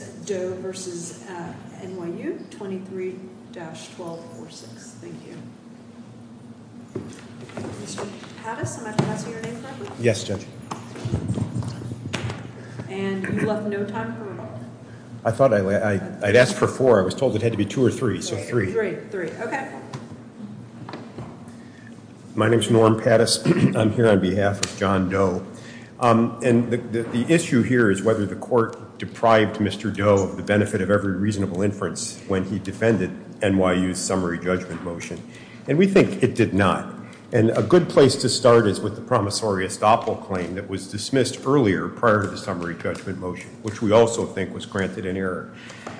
23-1246. Thank you. Mr. Pattis, am I passing your name card? Yes, Judge. And you left no time for one. I thought I'd asked for four. I was told it had to be two or three, so three. Three, okay. My name is Norm Pattis. I'm here on behalf of John Doe. And the issue here is whether the court deprived Mr. Doe of the benefit of every reasonable inference when he defended NYU's summary judgment motion. And we think it did not. And a good place to start is with the promissory estoppel claim that was dismissed earlier prior to the summary judgment motion, which we also think was granted in error.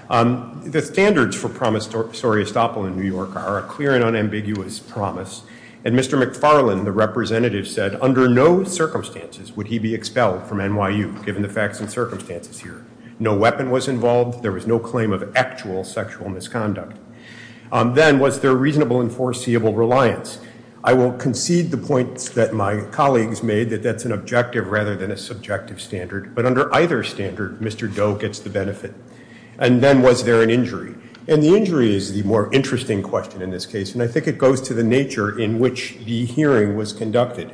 The standards for promissory estoppel in New York are a clear and unambiguous promise. And Mr. McFarlane, the representative, said under no circumstances would he be expelled from NYU, given the facts and circumstances here. No weapon was involved. There was no claim of actual sexual misconduct. Then was there reasonable and foreseeable reliance? I will concede the points that my colleagues made, that that's an objective rather than a subjective standard. But under either standard, Mr. Doe gets the benefit. And then was there an injury? And the injury is the more interesting question in this case. And I think it goes to the nature in which the hearing was conducted.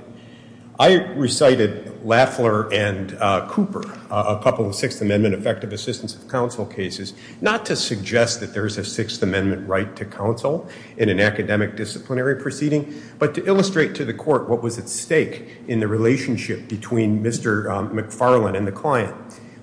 I recited Lafler and Cooper, a couple of Sixth Amendment effective assistance of counsel cases, not to suggest that there is a Sixth Amendment right to counsel in an academic disciplinary proceeding, but to illustrate to the court what was at stake in the relationship between Mr. McFarlane and the client.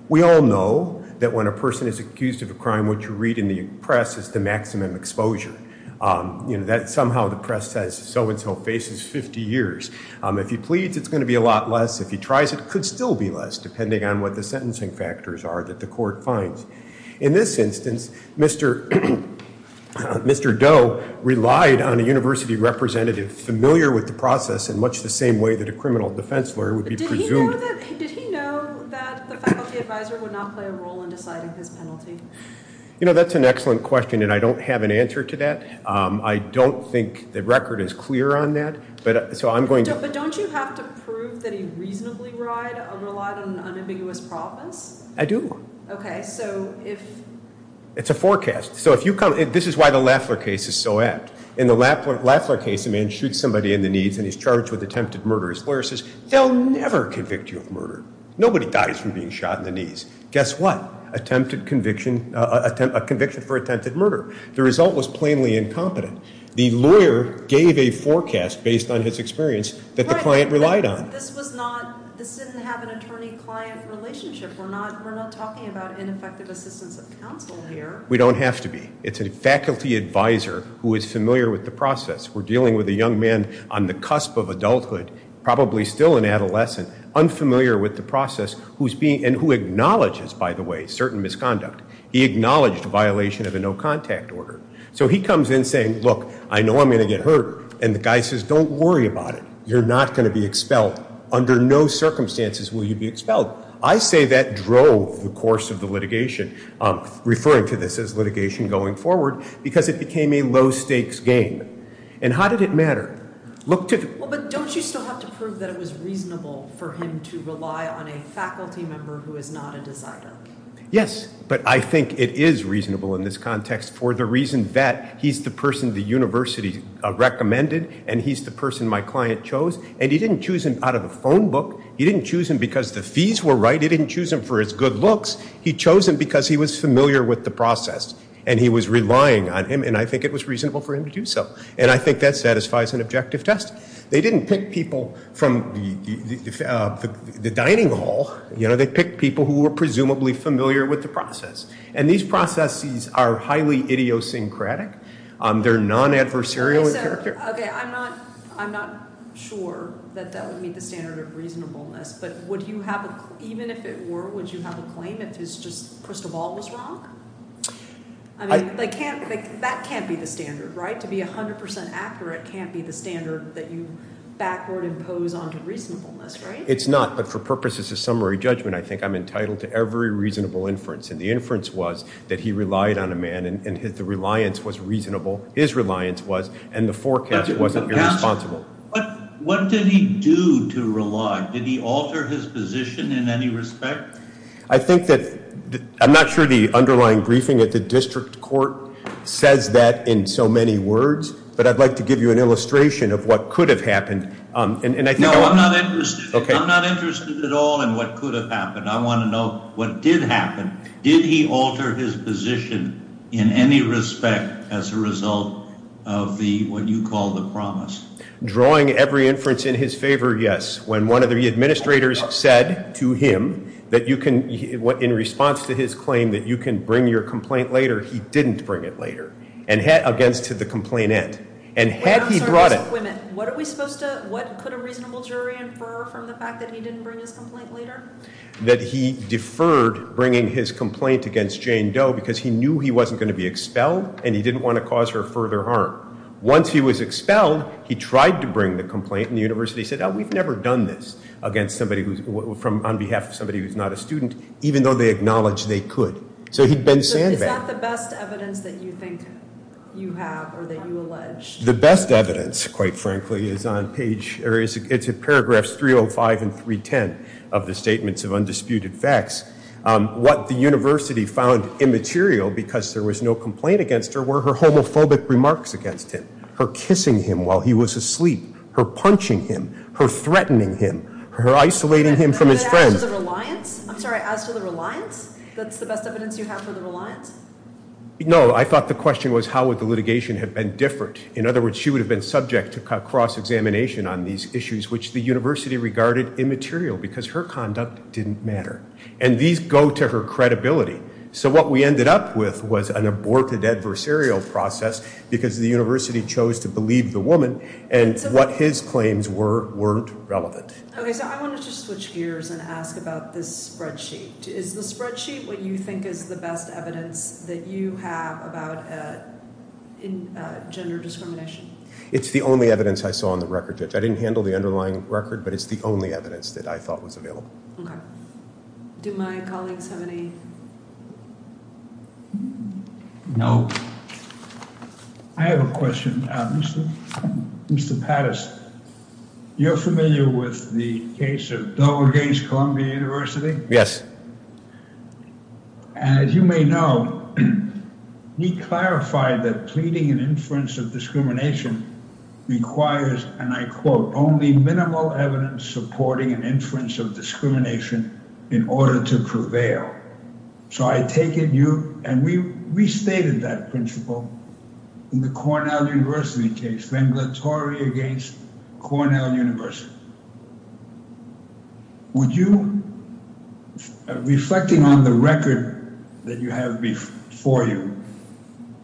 We all know that when a person is accused of a crime, what you read in the press is the maximum exposure. Somehow the press says so-and-so faces 50 years. If he pleads, it's going to be a lot less. If he tries, it could still be less, depending on what the sentencing factors are that the court finds. In this instance, Mr. Doe relied on a university representative familiar with the process in much the same way that a criminal defense lawyer would be presumed. Did he know that the faculty advisor would not play a role in deciding his penalty? You know, that's an excellent question, and I don't have an answer to that. I don't think the record is clear on that. But don't you have to prove that he reasonably relied on an unambiguous promise? I do. Okay, so if— It's a forecast. So if you come—this is why the Lafler case is so apt. In the Lafler case, a man shoots somebody in the knees and he's charged with attempted murder. His lawyer says, they'll never convict you of murder. Nobody dies from being shot in the knees. Guess what? Attempted conviction—a conviction for attempted murder. The result was plainly incompetent. The lawyer gave a forecast based on his experience that the client relied on. But this was not—this didn't have an attorney-client relationship. We're not talking about ineffective assistance of counsel here. We don't have to be. It's a faculty advisor who is familiar with the process. We're dealing with a young man on the cusp of adulthood, probably still an adolescent, unfamiliar with the process, and who acknowledges, by the way, certain misconduct. He acknowledged a violation of a no-contact order. So he comes in saying, look, I know I'm going to get hurt. And the guy says, don't worry about it. You're not going to be expelled. Under no circumstances will you be expelled. I say that drove the course of the litigation, referring to this as litigation going forward, because it became a low-stakes game. And how did it matter? Look to— Well, but don't you still have to prove that it was reasonable for him to rely on a faculty member who is not a decider? Yes, but I think it is reasonable in this context for the reason that he's the person the university recommended and he's the person my client chose. And he didn't choose him out of a phone book. He didn't choose him because the fees were right. He didn't choose him for his good looks. He chose him because he was familiar with the process and he was relying on him. And I think it was reasonable for him to do so. And I think that satisfies an objective test. They didn't pick people from the dining hall. You know, they picked people who were presumably familiar with the process. And these processes are highly idiosyncratic. They're non-adversarial in character. OK. I'm not sure that that would meet the standard of reasonableness. But would you have a—even if it were, would you have a claim if it's just, first of all, was wrong? I mean, they can't—that can't be the standard, right? To be 100 percent accurate can't be the standard that you backward-impose onto reasonableness, right? It's not. But for purposes of summary judgment, I think I'm entitled to every reasonable inference. And the inference was that he relied on a man and the reliance was reasonable. His reliance was, and the forecast wasn't irresponsible. What did he do to rely? Did he alter his position in any respect? I think that—I'm not sure the underlying briefing at the district court says that in so many words. But I'd like to give you an illustration of what could have happened. No, I'm not interested. I'm not interested at all in what could have happened. I want to know what did happen. Did he alter his position in any respect as a result of the—what you call the promise? Drawing every inference in his favor, yes. When one of the administrators said to him that you can—in response to his claim that you can bring your complaint later, he didn't bring it later against the complainant. And had he brought it— What are we supposed to—what could a reasonable jury infer from the fact that he didn't bring his complaint later? That he deferred bringing his complaint against Jane Doe because he knew he wasn't going to be expelled and he didn't want to cause her further harm. Once he was expelled, he tried to bring the complaint and the university said, oh, we've never done this against somebody who's—on behalf of somebody who's not a student, even though they acknowledged they could. So he'd been sandbagged. So is that the best evidence that you think you have or that you allege? The best evidence, quite frankly, is on page—or it's in paragraphs 305 and 310 of the Statements of Undisputed Facts. What the university found immaterial because there was no complaint against her were her homophobic remarks against him, her kissing him while he was asleep, her punching him, her threatening him, her isolating him from his friends. As to the reliance? I'm sorry, as to the reliance? That's the best evidence you have for the reliance? No, I thought the question was how would the litigation have been different? In other words, she would have been subject to cross-examination on these issues, which the university regarded immaterial because her conduct didn't matter. And these go to her credibility. So what we ended up with was an aborted adversarial process because the university chose to believe the woman and what his claims were weren't relevant. Okay, so I wanted to switch gears and ask about this spreadsheet. Is the spreadsheet what you think is the best evidence that you have about gender discrimination? It's the only evidence I saw on the record. I didn't handle the underlying record, but it's the only evidence that I thought was available. Do my colleagues have any...? I have a question. Mr. Pattis, you're familiar with the case of Dover Gaines Columbia University? Yes. As you may know, we clarified that pleading an inference of discrimination requires, and I quote, only minimal evidence supporting an inference of discrimination in order to prevail. So I take it you... And we restated that principle in the Cornell University case, venglatori against Cornell University. Would you, reflecting on the record that you have before you,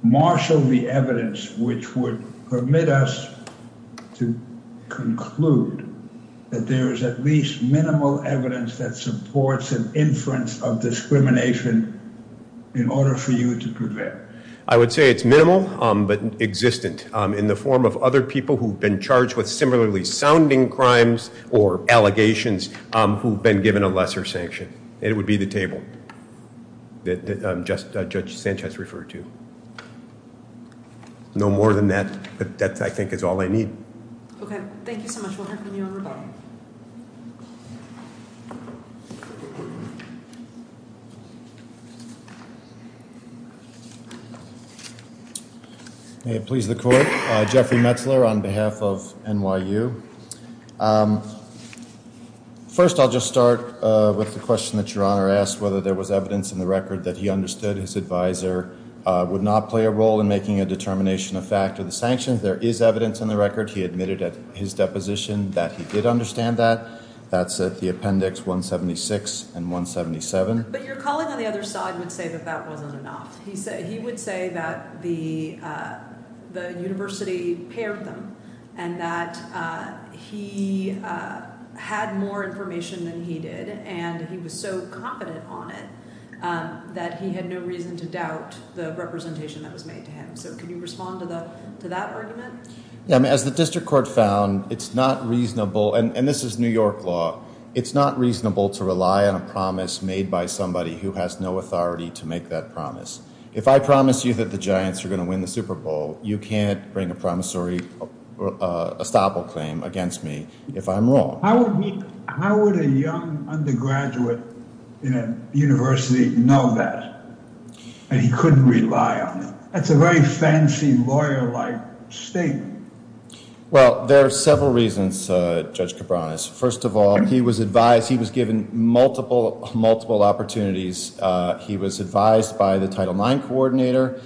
marshal the evidence which would permit us to conclude that there is at least minimal evidence that supports an inference of discrimination in order for you to prevail? I would say it's minimal but existent in the form of other people who've been charged with similarly sounding crimes or allegations who've been given a lesser sanction. And it would be the table that Judge Sanchez referred to. No more than that. But that, I think, is all I need. Okay. Thank you so much. We'll hear from you in a moment. May it please the Court. Jeffrey Metzler on behalf of NYU. First, I'll just start with the question that Your Honor asked, whether there was evidence in the record that he understood his advisor would not play a role in making a determination of fact of the sanctions. There is evidence in the record, he admitted at his deposition, that he did understand that. That's at the appendix 176 and 177. But your colleague on the other side would say that that wasn't enough. He would say that the university paired them and that he had more information than he did and he was so confident on it that he had no reason to doubt the representation that was made to him. So can you respond to that argument? As the District Court found, it's not reasonable, and this is New York law, it's not reasonable to rely on a promise made by somebody who has no authority to make that promise. If I promise you that the Giants are going to win the Super Bowl, you can't bring a promissory estoppel claim against me if I'm wrong. How would a young undergraduate in a university know that and he couldn't rely on it? That's a very fancy lawyer-like statement. Well, there are several reasons, Judge Cabranes. First of all, he was advised, he was given multiple, multiple opportunities. He was advised by the Title IX coordinator.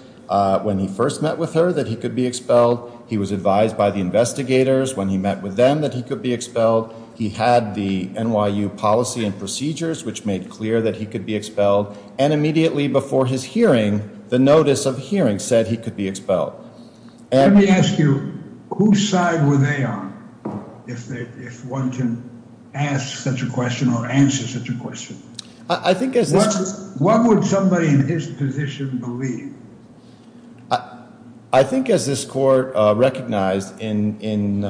When he first met with her, that he could be expelled. He was advised by the investigators. When he met with them, that he could be expelled. He had the NYU policy and procedures, which made clear that he could be expelled. And immediately before his hearing, the notice of hearing said he could be expelled. Let me ask you, whose side were they on if one can ask such a question or answer such a question? What would somebody in his position believe? I think as this court recognized in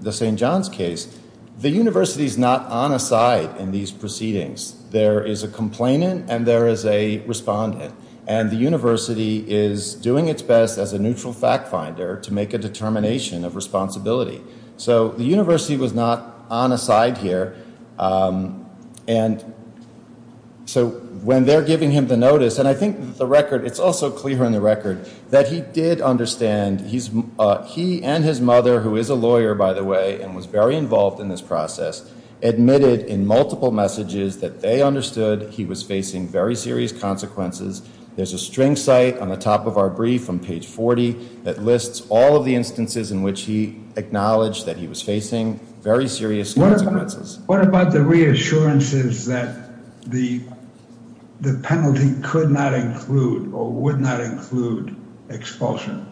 the St. John's case, the university is not on a side in these proceedings. There is a complainant and there is a respondent. And the university is doing its best as a neutral fact finder to make a determination of responsibility. So the university was not on a side here. And so when they're giving him the notice, and I think the record, it's also clear in the record, that he did understand he and his mother, who is a lawyer, by the way, and was very involved in this process, admitted in multiple messages that they understood he was facing very serious consequences. There's a string site on the top of our brief on page 40 that lists all of the instances in which he acknowledged that he was facing very serious consequences. What about the reassurances that the penalty could not include or would not include expulsion?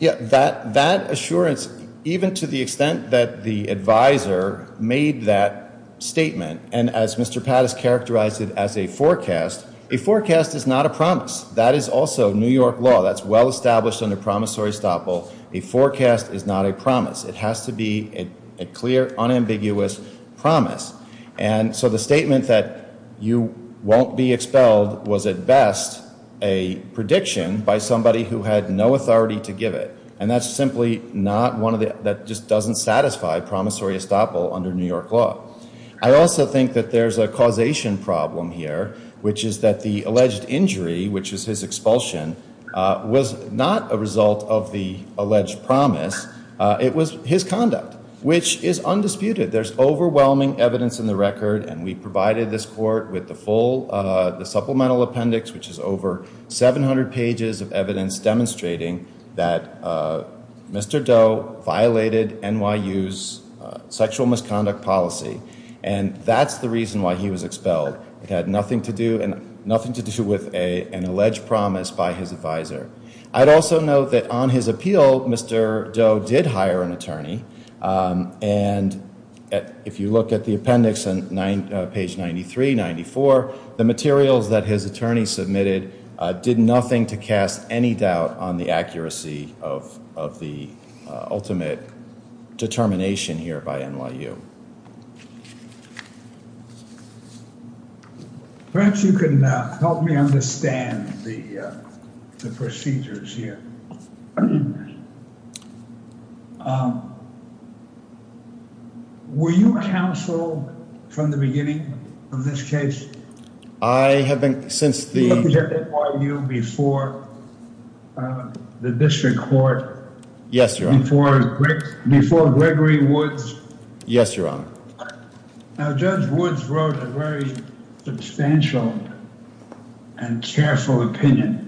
Yeah, that assurance, even to the extent that the advisor made that statement, and as Mr. Pattis characterized it as a forecast, a forecast is not a promise. That is also New York law. That's well established under promissory stop law. A forecast is not a promise. It has to be a clear, unambiguous promise. And so the statement that you won't be expelled was, at best, a prediction by somebody who had no authority to give it. And that's simply not one that just doesn't satisfy promissory estoppel under New York law. I also think that there's a causation problem here, which is that the alleged injury, which is his expulsion, was not a result of the alleged promise. It was his conduct, which is undisputed. There's overwhelming evidence in the record, and we provided this court with the full supplemental appendix, which is over 700 pages of evidence demonstrating that Mr. Doe violated NYU's sexual misconduct policy, and that's the reason why he was expelled. It had nothing to do with an alleged promise by his advisor. I'd also note that on his appeal, Mr. Doe did hire an attorney, and if you look at the appendix on page 93, 94, the materials that his attorney submitted did nothing to cast any doubt on the accuracy of the ultimate determination here by NYU. Perhaps you can help me understand the procedures here. Were you counsel from the beginning of this case? I have been since the... You represented NYU before the district court. Yes, Your Honor. Before Gregory Woods. Yes, Your Honor. Now, Judge Woods wrote a very substantial and careful opinion,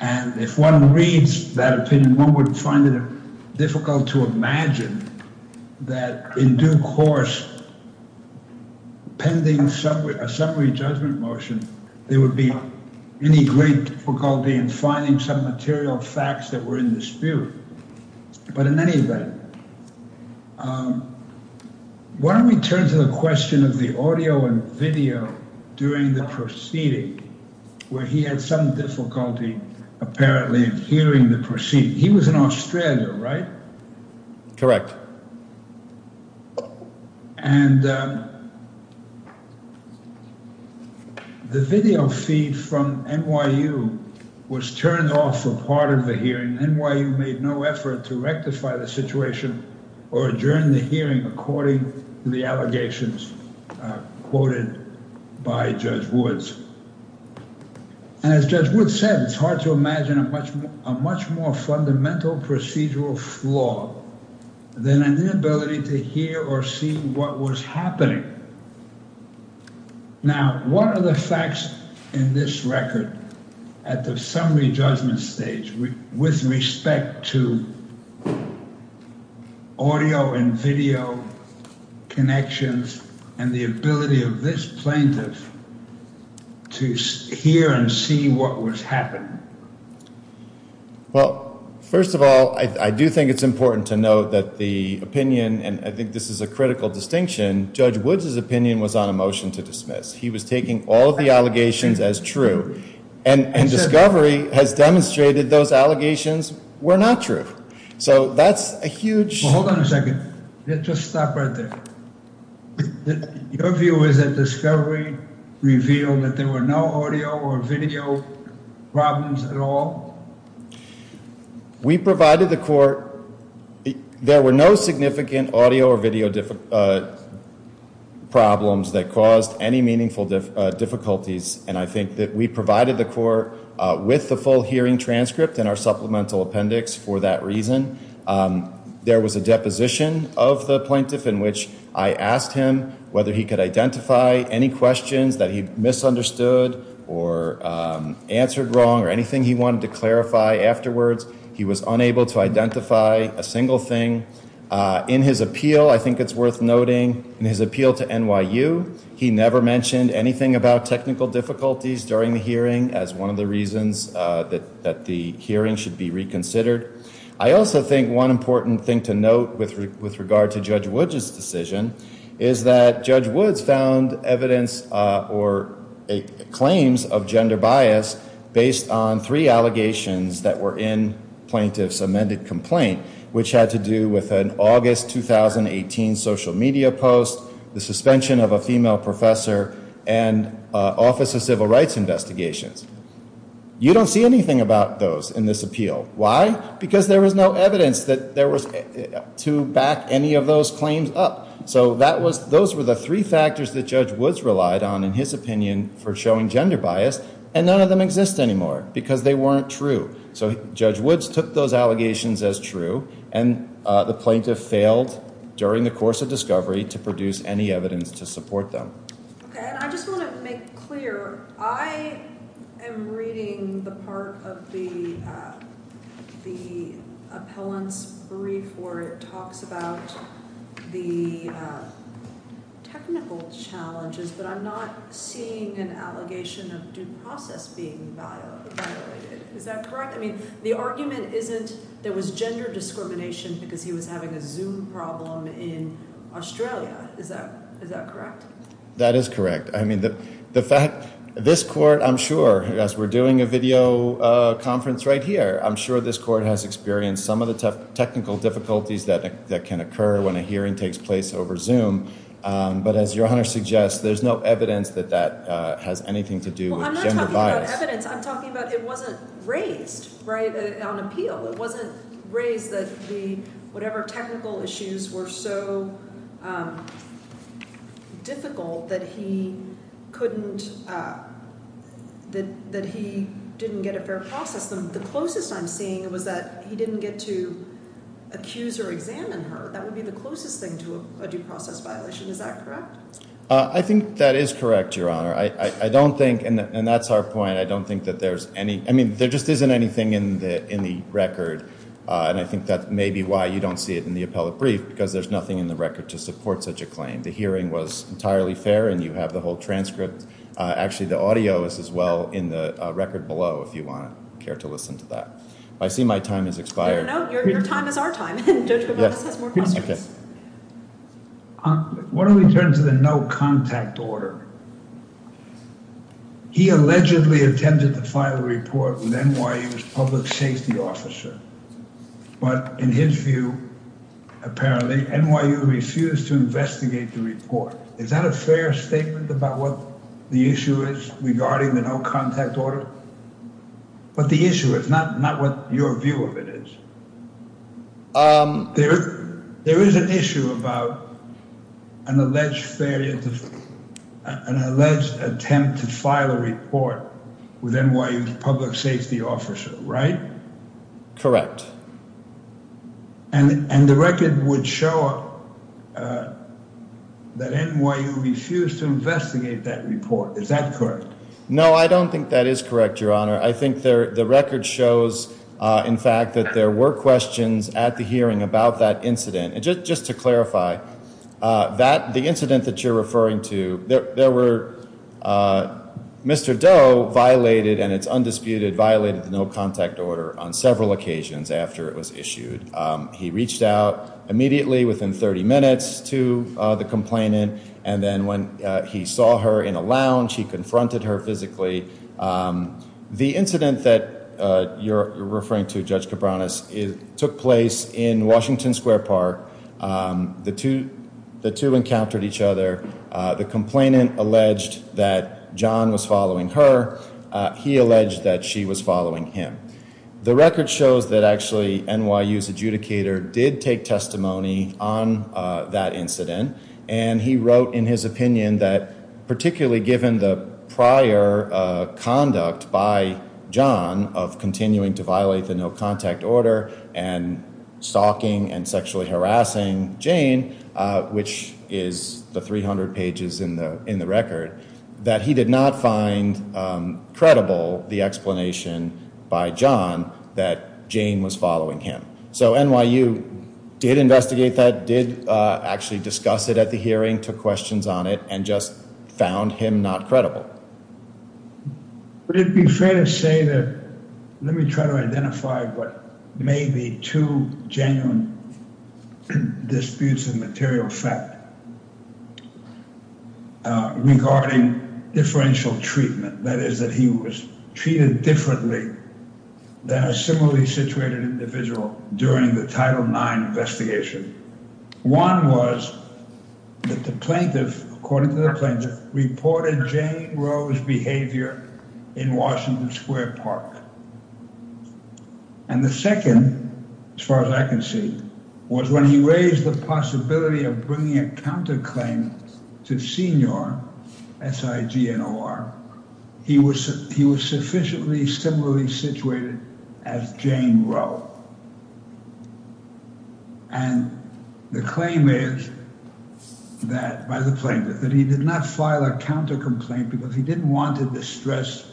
and if one reads that opinion, one would find it difficult to imagine that in due course, pending a summary judgment motion, there would be any great difficulty in finding some material facts that were in dispute. But in any event, why don't we turn to the question of the audio and video during the proceeding, where he had some difficulty apparently in hearing the proceeding. He was in Australia, right? Correct. And the video feed from NYU was turned off for part of the hearing. NYU made no effort to rectify the situation or adjourn the hearing according to the allegations quoted by Judge Woods. As Judge Woods said, it's hard to imagine a much more fundamental procedural flaw than an inability to hear or see what was happening. Now, what are the facts in this record at the summary judgment stage with respect to audio and video connections and the ability of this plaintiff to hear and see what was happening? Well, first of all, I do think it's important to note that the opinion, and I think this is a critical distinction, Judge Woods's opinion was on a motion to dismiss. He was taking all of the allegations as true. And Discovery has demonstrated those allegations were not true. So that's a huge... Hold on a second. Just stop right there. Your view is that Discovery revealed that there were no audio or video problems at all? We provided the court... There were no significant audio or video problems that caused any meaningful difficulties. And I think that we provided the court with the full hearing transcript and our supplemental appendix for that reason. There was a deposition of the plaintiff in which I asked him whether he could identify any questions that he misunderstood or answered wrong or anything he wanted to clarify afterwards. He was unable to identify a single thing. In his appeal, I think it's worth noting, in his appeal to NYU, he never mentioned anything about technical difficulties during the hearing as one of the reasons that the hearing should be reconsidered. I also think one important thing to note with regard to Judge Woods's decision is that Judge Woods found evidence or claims of gender bias based on three allegations that were in plaintiff's amended complaint, which had to do with an August 2018 social media post, the suspension of a female professor, and Office of Civil Rights investigations. You don't see anything about those in this appeal. Why? Because there was no evidence to back any of those claims up. So those were the three factors that Judge Woods relied on in his opinion for showing gender bias, and none of them exist anymore because they weren't true. So Judge Woods took those allegations as true, and the plaintiff failed during the course of discovery to produce any evidence to support them. Okay, and I just want to make clear, I am reading the part of the appellant's brief where it talks about the technical challenges, but I'm not seeing an allegation of due process being violated. Is that correct? I mean, the argument isn't there was gender discrimination because he was having a Zoom problem in Australia. Is that correct? That is correct. I mean, the fact this court, I'm sure, as we're doing a video conference right here, I'm sure this court has experienced some of the technical difficulties that can occur when a hearing takes place over Zoom. But as your Honor suggests, there's no evidence that that has anything to do with gender bias. I'm talking about evidence. I'm talking about it wasn't raised, right, on appeal. It wasn't raised that the whatever technical issues were so difficult that he couldn't, that he didn't get a fair process. The closest I'm seeing was that he didn't get to accuse or examine her. That would be the closest thing to a due process violation. Is that correct? I think that is correct, Your Honor. I don't think and that's our point. I don't think that there's any I mean, there just isn't anything in the in the record. And I think that may be why you don't see it in the appellate brief, because there's nothing in the record to support such a claim. The hearing was entirely fair and you have the whole transcript. Actually, the audio is as well in the record below, if you want to care to listen to that. I see my time has expired. No, your time is our time. OK. What do we turn to the no contact order? He allegedly intended to file a report with NYU's public safety officer. But in his view, apparently NYU refused to investigate the report. Is that a fair statement about what the issue is regarding the no contact order? But the issue is not not what your view of it is. There is an issue about an alleged failure to an alleged attempt to file a report with NYU's public safety officer. Right. Correct. And the record would show that NYU refused to investigate that report. Is that correct? No, I don't think that is correct, Your Honor. I think there the record shows, in fact, that there were questions at the hearing about that incident. And just just to clarify that the incident that you're referring to, there were Mr. Doe violated and it's undisputed, violated the no contact order on several occasions after it was issued. He reached out immediately within 30 minutes to the complainant. And then when he saw her in a lounge, he confronted her physically. The incident that you're referring to, Judge Cabranes, took place in Washington Square Park. The two the two encountered each other. The complainant alleged that John was following her. He alleged that she was following him. The record shows that actually NYU's adjudicator did take testimony on that incident. And he wrote in his opinion that particularly given the prior conduct by John of continuing to violate the no contact order and stalking and sexually harassing Jane, which is the 300 pages in the in the record that he did not find credible the explanation by John that Jane was following him. So NYU did investigate that, did actually discuss it at the hearing, took questions on it and just found him not credible. Would it be fair to say that let me try to identify what may be two genuine disputes of material fact regarding differential treatment, that is, that he was treated differently than a similarly situated individual during the Title IX investigation? One was that the plaintiff, according to the plaintiff, reported Jane Rose behavior in Washington Square Park. And the second, as far as I can see, was when he raised the possibility of bringing a counterclaim to Senior, S-I-G-N-O-R. He was he was sufficiently similarly situated as Jane Roe. And the claim is that by the plaintiff that he did not file a counter complaint because he didn't want to distress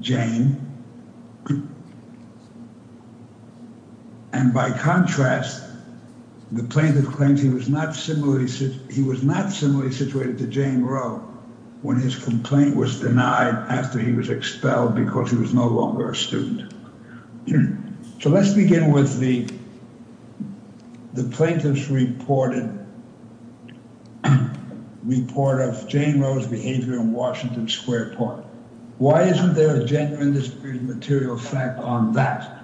Jane. And by contrast, the plaintiff claims he was not similarly situated to Jane Roe when his complaint was denied after he was expelled because he was no longer a student. So let's begin with the the plaintiff's reported report of Jane Rose behavior in Washington Square Park. Why isn't there a genuine dispute of material fact on that?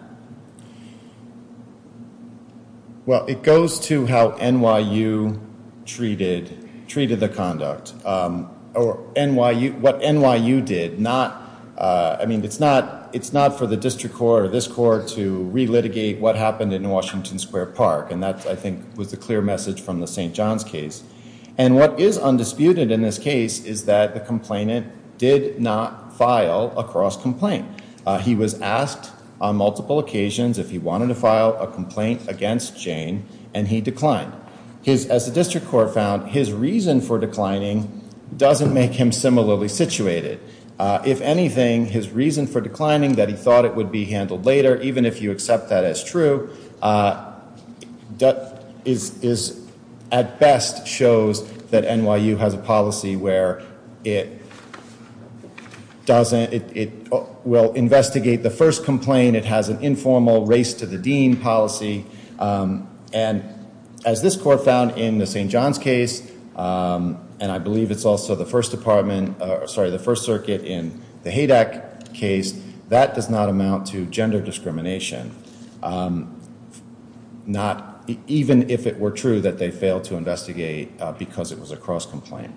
Well, it goes to how NYU treated treated the conduct or NYU, what NYU did not. I mean, it's not it's not for the district court or this court to relitigate what happened in Washington Square Park. And that, I think, was the clear message from the St. John's case. And what is undisputed in this case is that the complainant did not file a cross complaint. He was asked on multiple occasions if he wanted to file a complaint against Jane. And he declined his as the district court found his reason for declining doesn't make him similarly situated. If anything, his reason for declining that he thought it would be handled later, even if you accept that as true. That is, is at best shows that NYU has a policy where it doesn't it will investigate the first complaint. It has an informal race to the dean policy. And as this court found in the St. John's case, and I believe it's also the first department. Sorry, the First Circuit in the Haydack case that does not amount to gender discrimination. Not even if it were true that they failed to investigate because it was a cross complaint.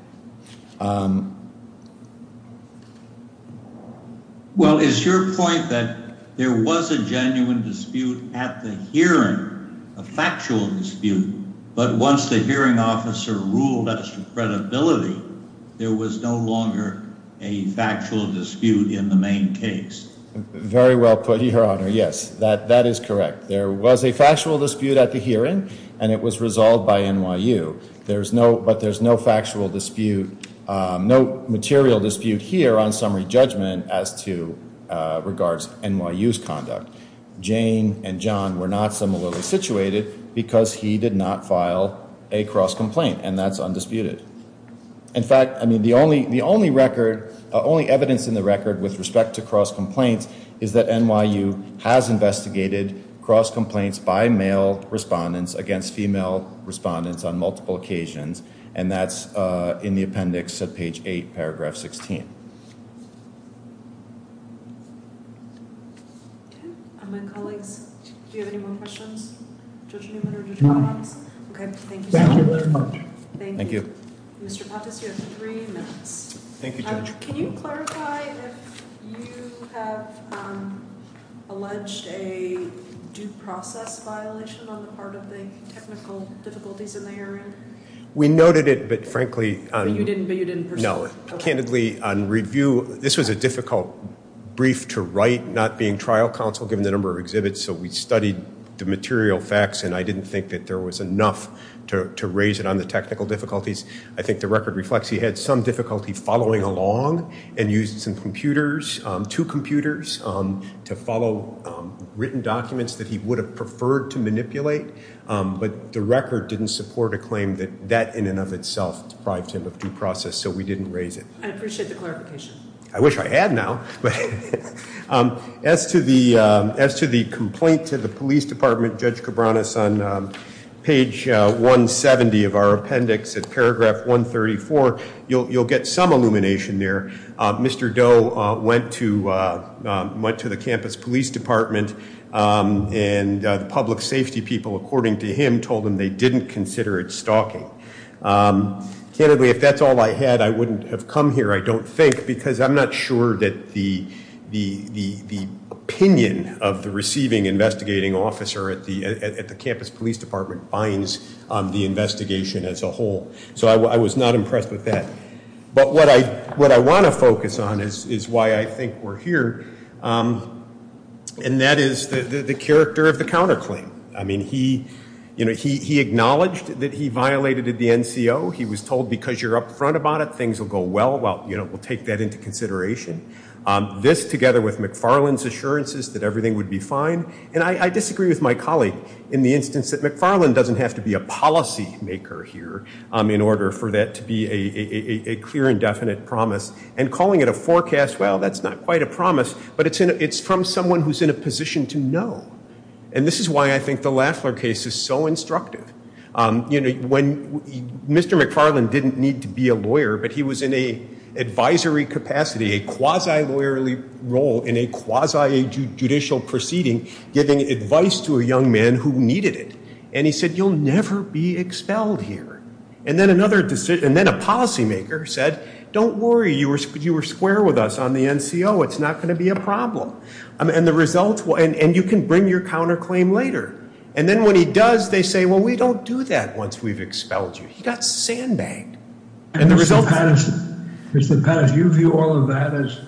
Well, it's your point that there was a genuine dispute at the hearing, a factual dispute. But once the hearing officer ruled that credibility, there was no longer a factual dispute in the main case. Very well put here on her. Yes, that that is correct. There was a factual dispute at the hearing, and it was resolved by NYU. There's no but there's no factual dispute, no material dispute here on summary judgment as to regards NYU's conduct. Jane and John were not similarly situated because he did not file a cross complaint. And that's undisputed. In fact, I mean, the only the only record, only evidence in the record with respect to cross complaints, is that NYU has investigated cross complaints by male respondents against female respondents on multiple occasions. And that's in the appendix of page eight, paragraph 16. My colleagues, do you have any more questions? OK, thank you. Thank you. Mr. Patas, you have three minutes. Thank you, Judge. Can you clarify if you have alleged a due process violation on the part of the technical difficulties in the hearing? We noted it, but frankly, you didn't, but you didn't know it candidly on review. This was a difficult brief to write, not being trial counsel, given the number of exhibits. So we studied the material facts, and I didn't think that there was enough to raise it on the technical difficulties. I think the record reflects he had some difficulty following along and used some computers, two computers to follow written documents that he would have preferred to manipulate. But the record didn't support a claim that that in and of itself deprived him of due process. So we didn't raise it. I appreciate the clarification. I wish I had now. As to the complaint to the police department, Judge Cabranes, on page 170 of our appendix at paragraph 134, you'll get some illumination there. Mr. Doe went to the campus police department, and the public safety people, according to him, told him they didn't consider it stalking. Candidly, if that's all I had, I wouldn't have come here, I don't think, because I'm not sure that the opinion of the receiving investigating officer at the campus police department binds the investigation as a whole. So I was not impressed with that. But what I want to focus on is why I think we're here, and that is the character of the counterclaim. I mean, he acknowledged that he violated the NCO. He was told, because you're up front about it, things will go well. Well, we'll take that into consideration. This, together with McFarland's assurances that everything would be fine. And I disagree with my colleague in the instance that McFarland doesn't have to be a policymaker here in order for that to be a clear and definite promise. And calling it a forecast, well, that's not quite a promise, but it's from someone who's in a position to know. And this is why I think the Lafler case is so instructive. You know, Mr. McFarland didn't need to be a lawyer, but he was in an advisory capacity, a quasi-lawyerly role in a quasi-judicial proceeding, giving advice to a young man who needed it. And he said, you'll never be expelled here. And then a policymaker said, don't worry, you were square with us on the NCO. It's not going to be a problem. And you can bring your counterclaim later. And then when he does, they say, well, we don't do that once we've expelled you. He got sandbagged. And the result is- Mr. Patterson, you view all of that as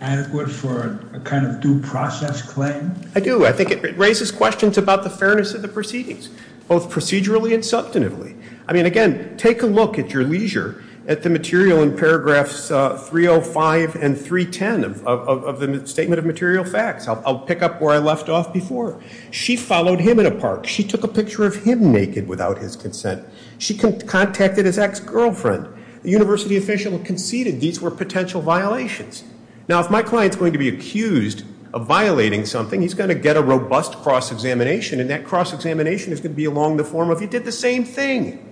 adequate for a kind of due process claim? I do. I think it raises questions about the fairness of the proceedings, both procedurally and substantively. I mean, again, take a look at your leisure at the material in paragraphs 305 and 310 of the statement of material facts. I'll pick up where I left off before. She followed him in a park. She took a picture of him naked without his consent. She contacted his ex-girlfriend. The university official conceded these were potential violations. Now, if my client's going to be accused of violating something, he's going to get a robust cross-examination. And that cross-examination is going to be along the form of you did the same thing.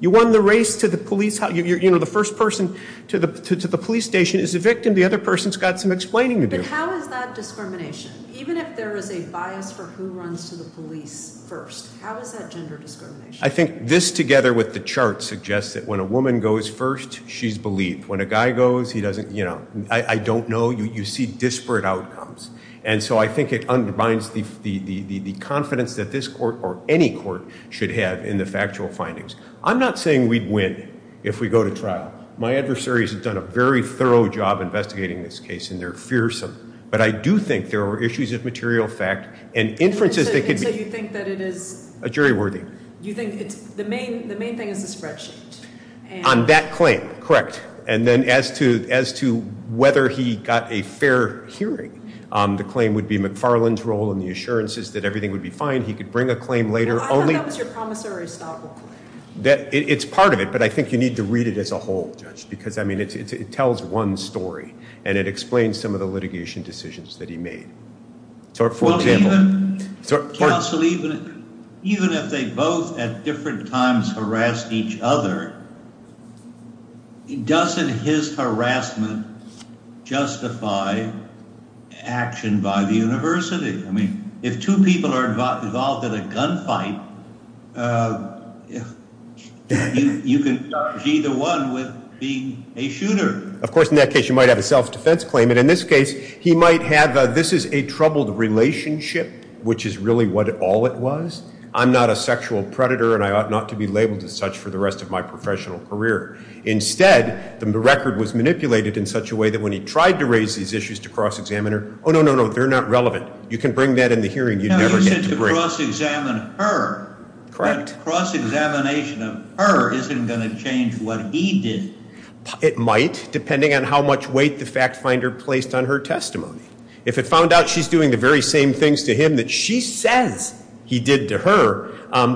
You won the race to the police. You know, the first person to the police station is the victim. The other person's got some explaining to do. But how is that discrimination? Even if there is a bias for who runs to the police first, how is that gender discrimination? I think this together with the chart suggests that when a woman goes first, she's believed. When a guy goes, he doesn't, you know, I don't know. You see disparate outcomes. And so I think it undermines the confidence that this court or any court should have in the factual findings. I'm not saying we'd win if we go to trial. My adversaries have done a very thorough job investigating this case, and they're fearsome. But I do think there are issues of material fact and inferences that could be- So you think that it is- A jury worthy. You think it's the main thing is the spreadsheet. On that claim, correct. And then as to whether he got a fair hearing, the claim would be McFarland's role in the assurances that everything would be fine. He could bring a claim later. No, I thought that was your promissory stop. It's part of it, but I think you need to read it as a whole, Judge, because, I mean, it tells one story. And it explains some of the litigation decisions that he made. Counsel, even if they both at different times harassed each other, doesn't his harassment justify action by the university? I mean, if two people are involved in a gunfight, you can charge either one with being a shooter. Of course, in that case, you might have a self-defense claim. And in this case, he might have a, this is a troubled relationship, which is really what all it was. I'm not a sexual predator, and I ought not to be labeled as such for the rest of my professional career. Instead, the record was manipulated in such a way that when he tried to raise these issues to cross-examine her, oh, no, no, no, they're not relevant. You can bring that in the hearing. You'd never get to bring- No, you said to cross-examine her. Correct. But cross-examination of her isn't going to change what he did. It might, depending on how much weight the fact finder placed on her testimony. If it found out she's doing the very same things to him that she says he did to her,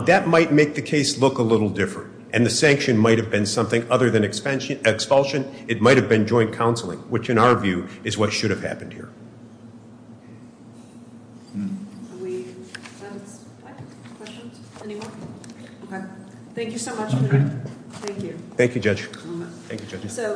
that might make the case look a little different. And the sanction might have been something other than expulsion. It might have been joint counseling, which in our view is what should have happened here. Thank you so much. Thank you. Thank you, Judge. Thank you, Judge.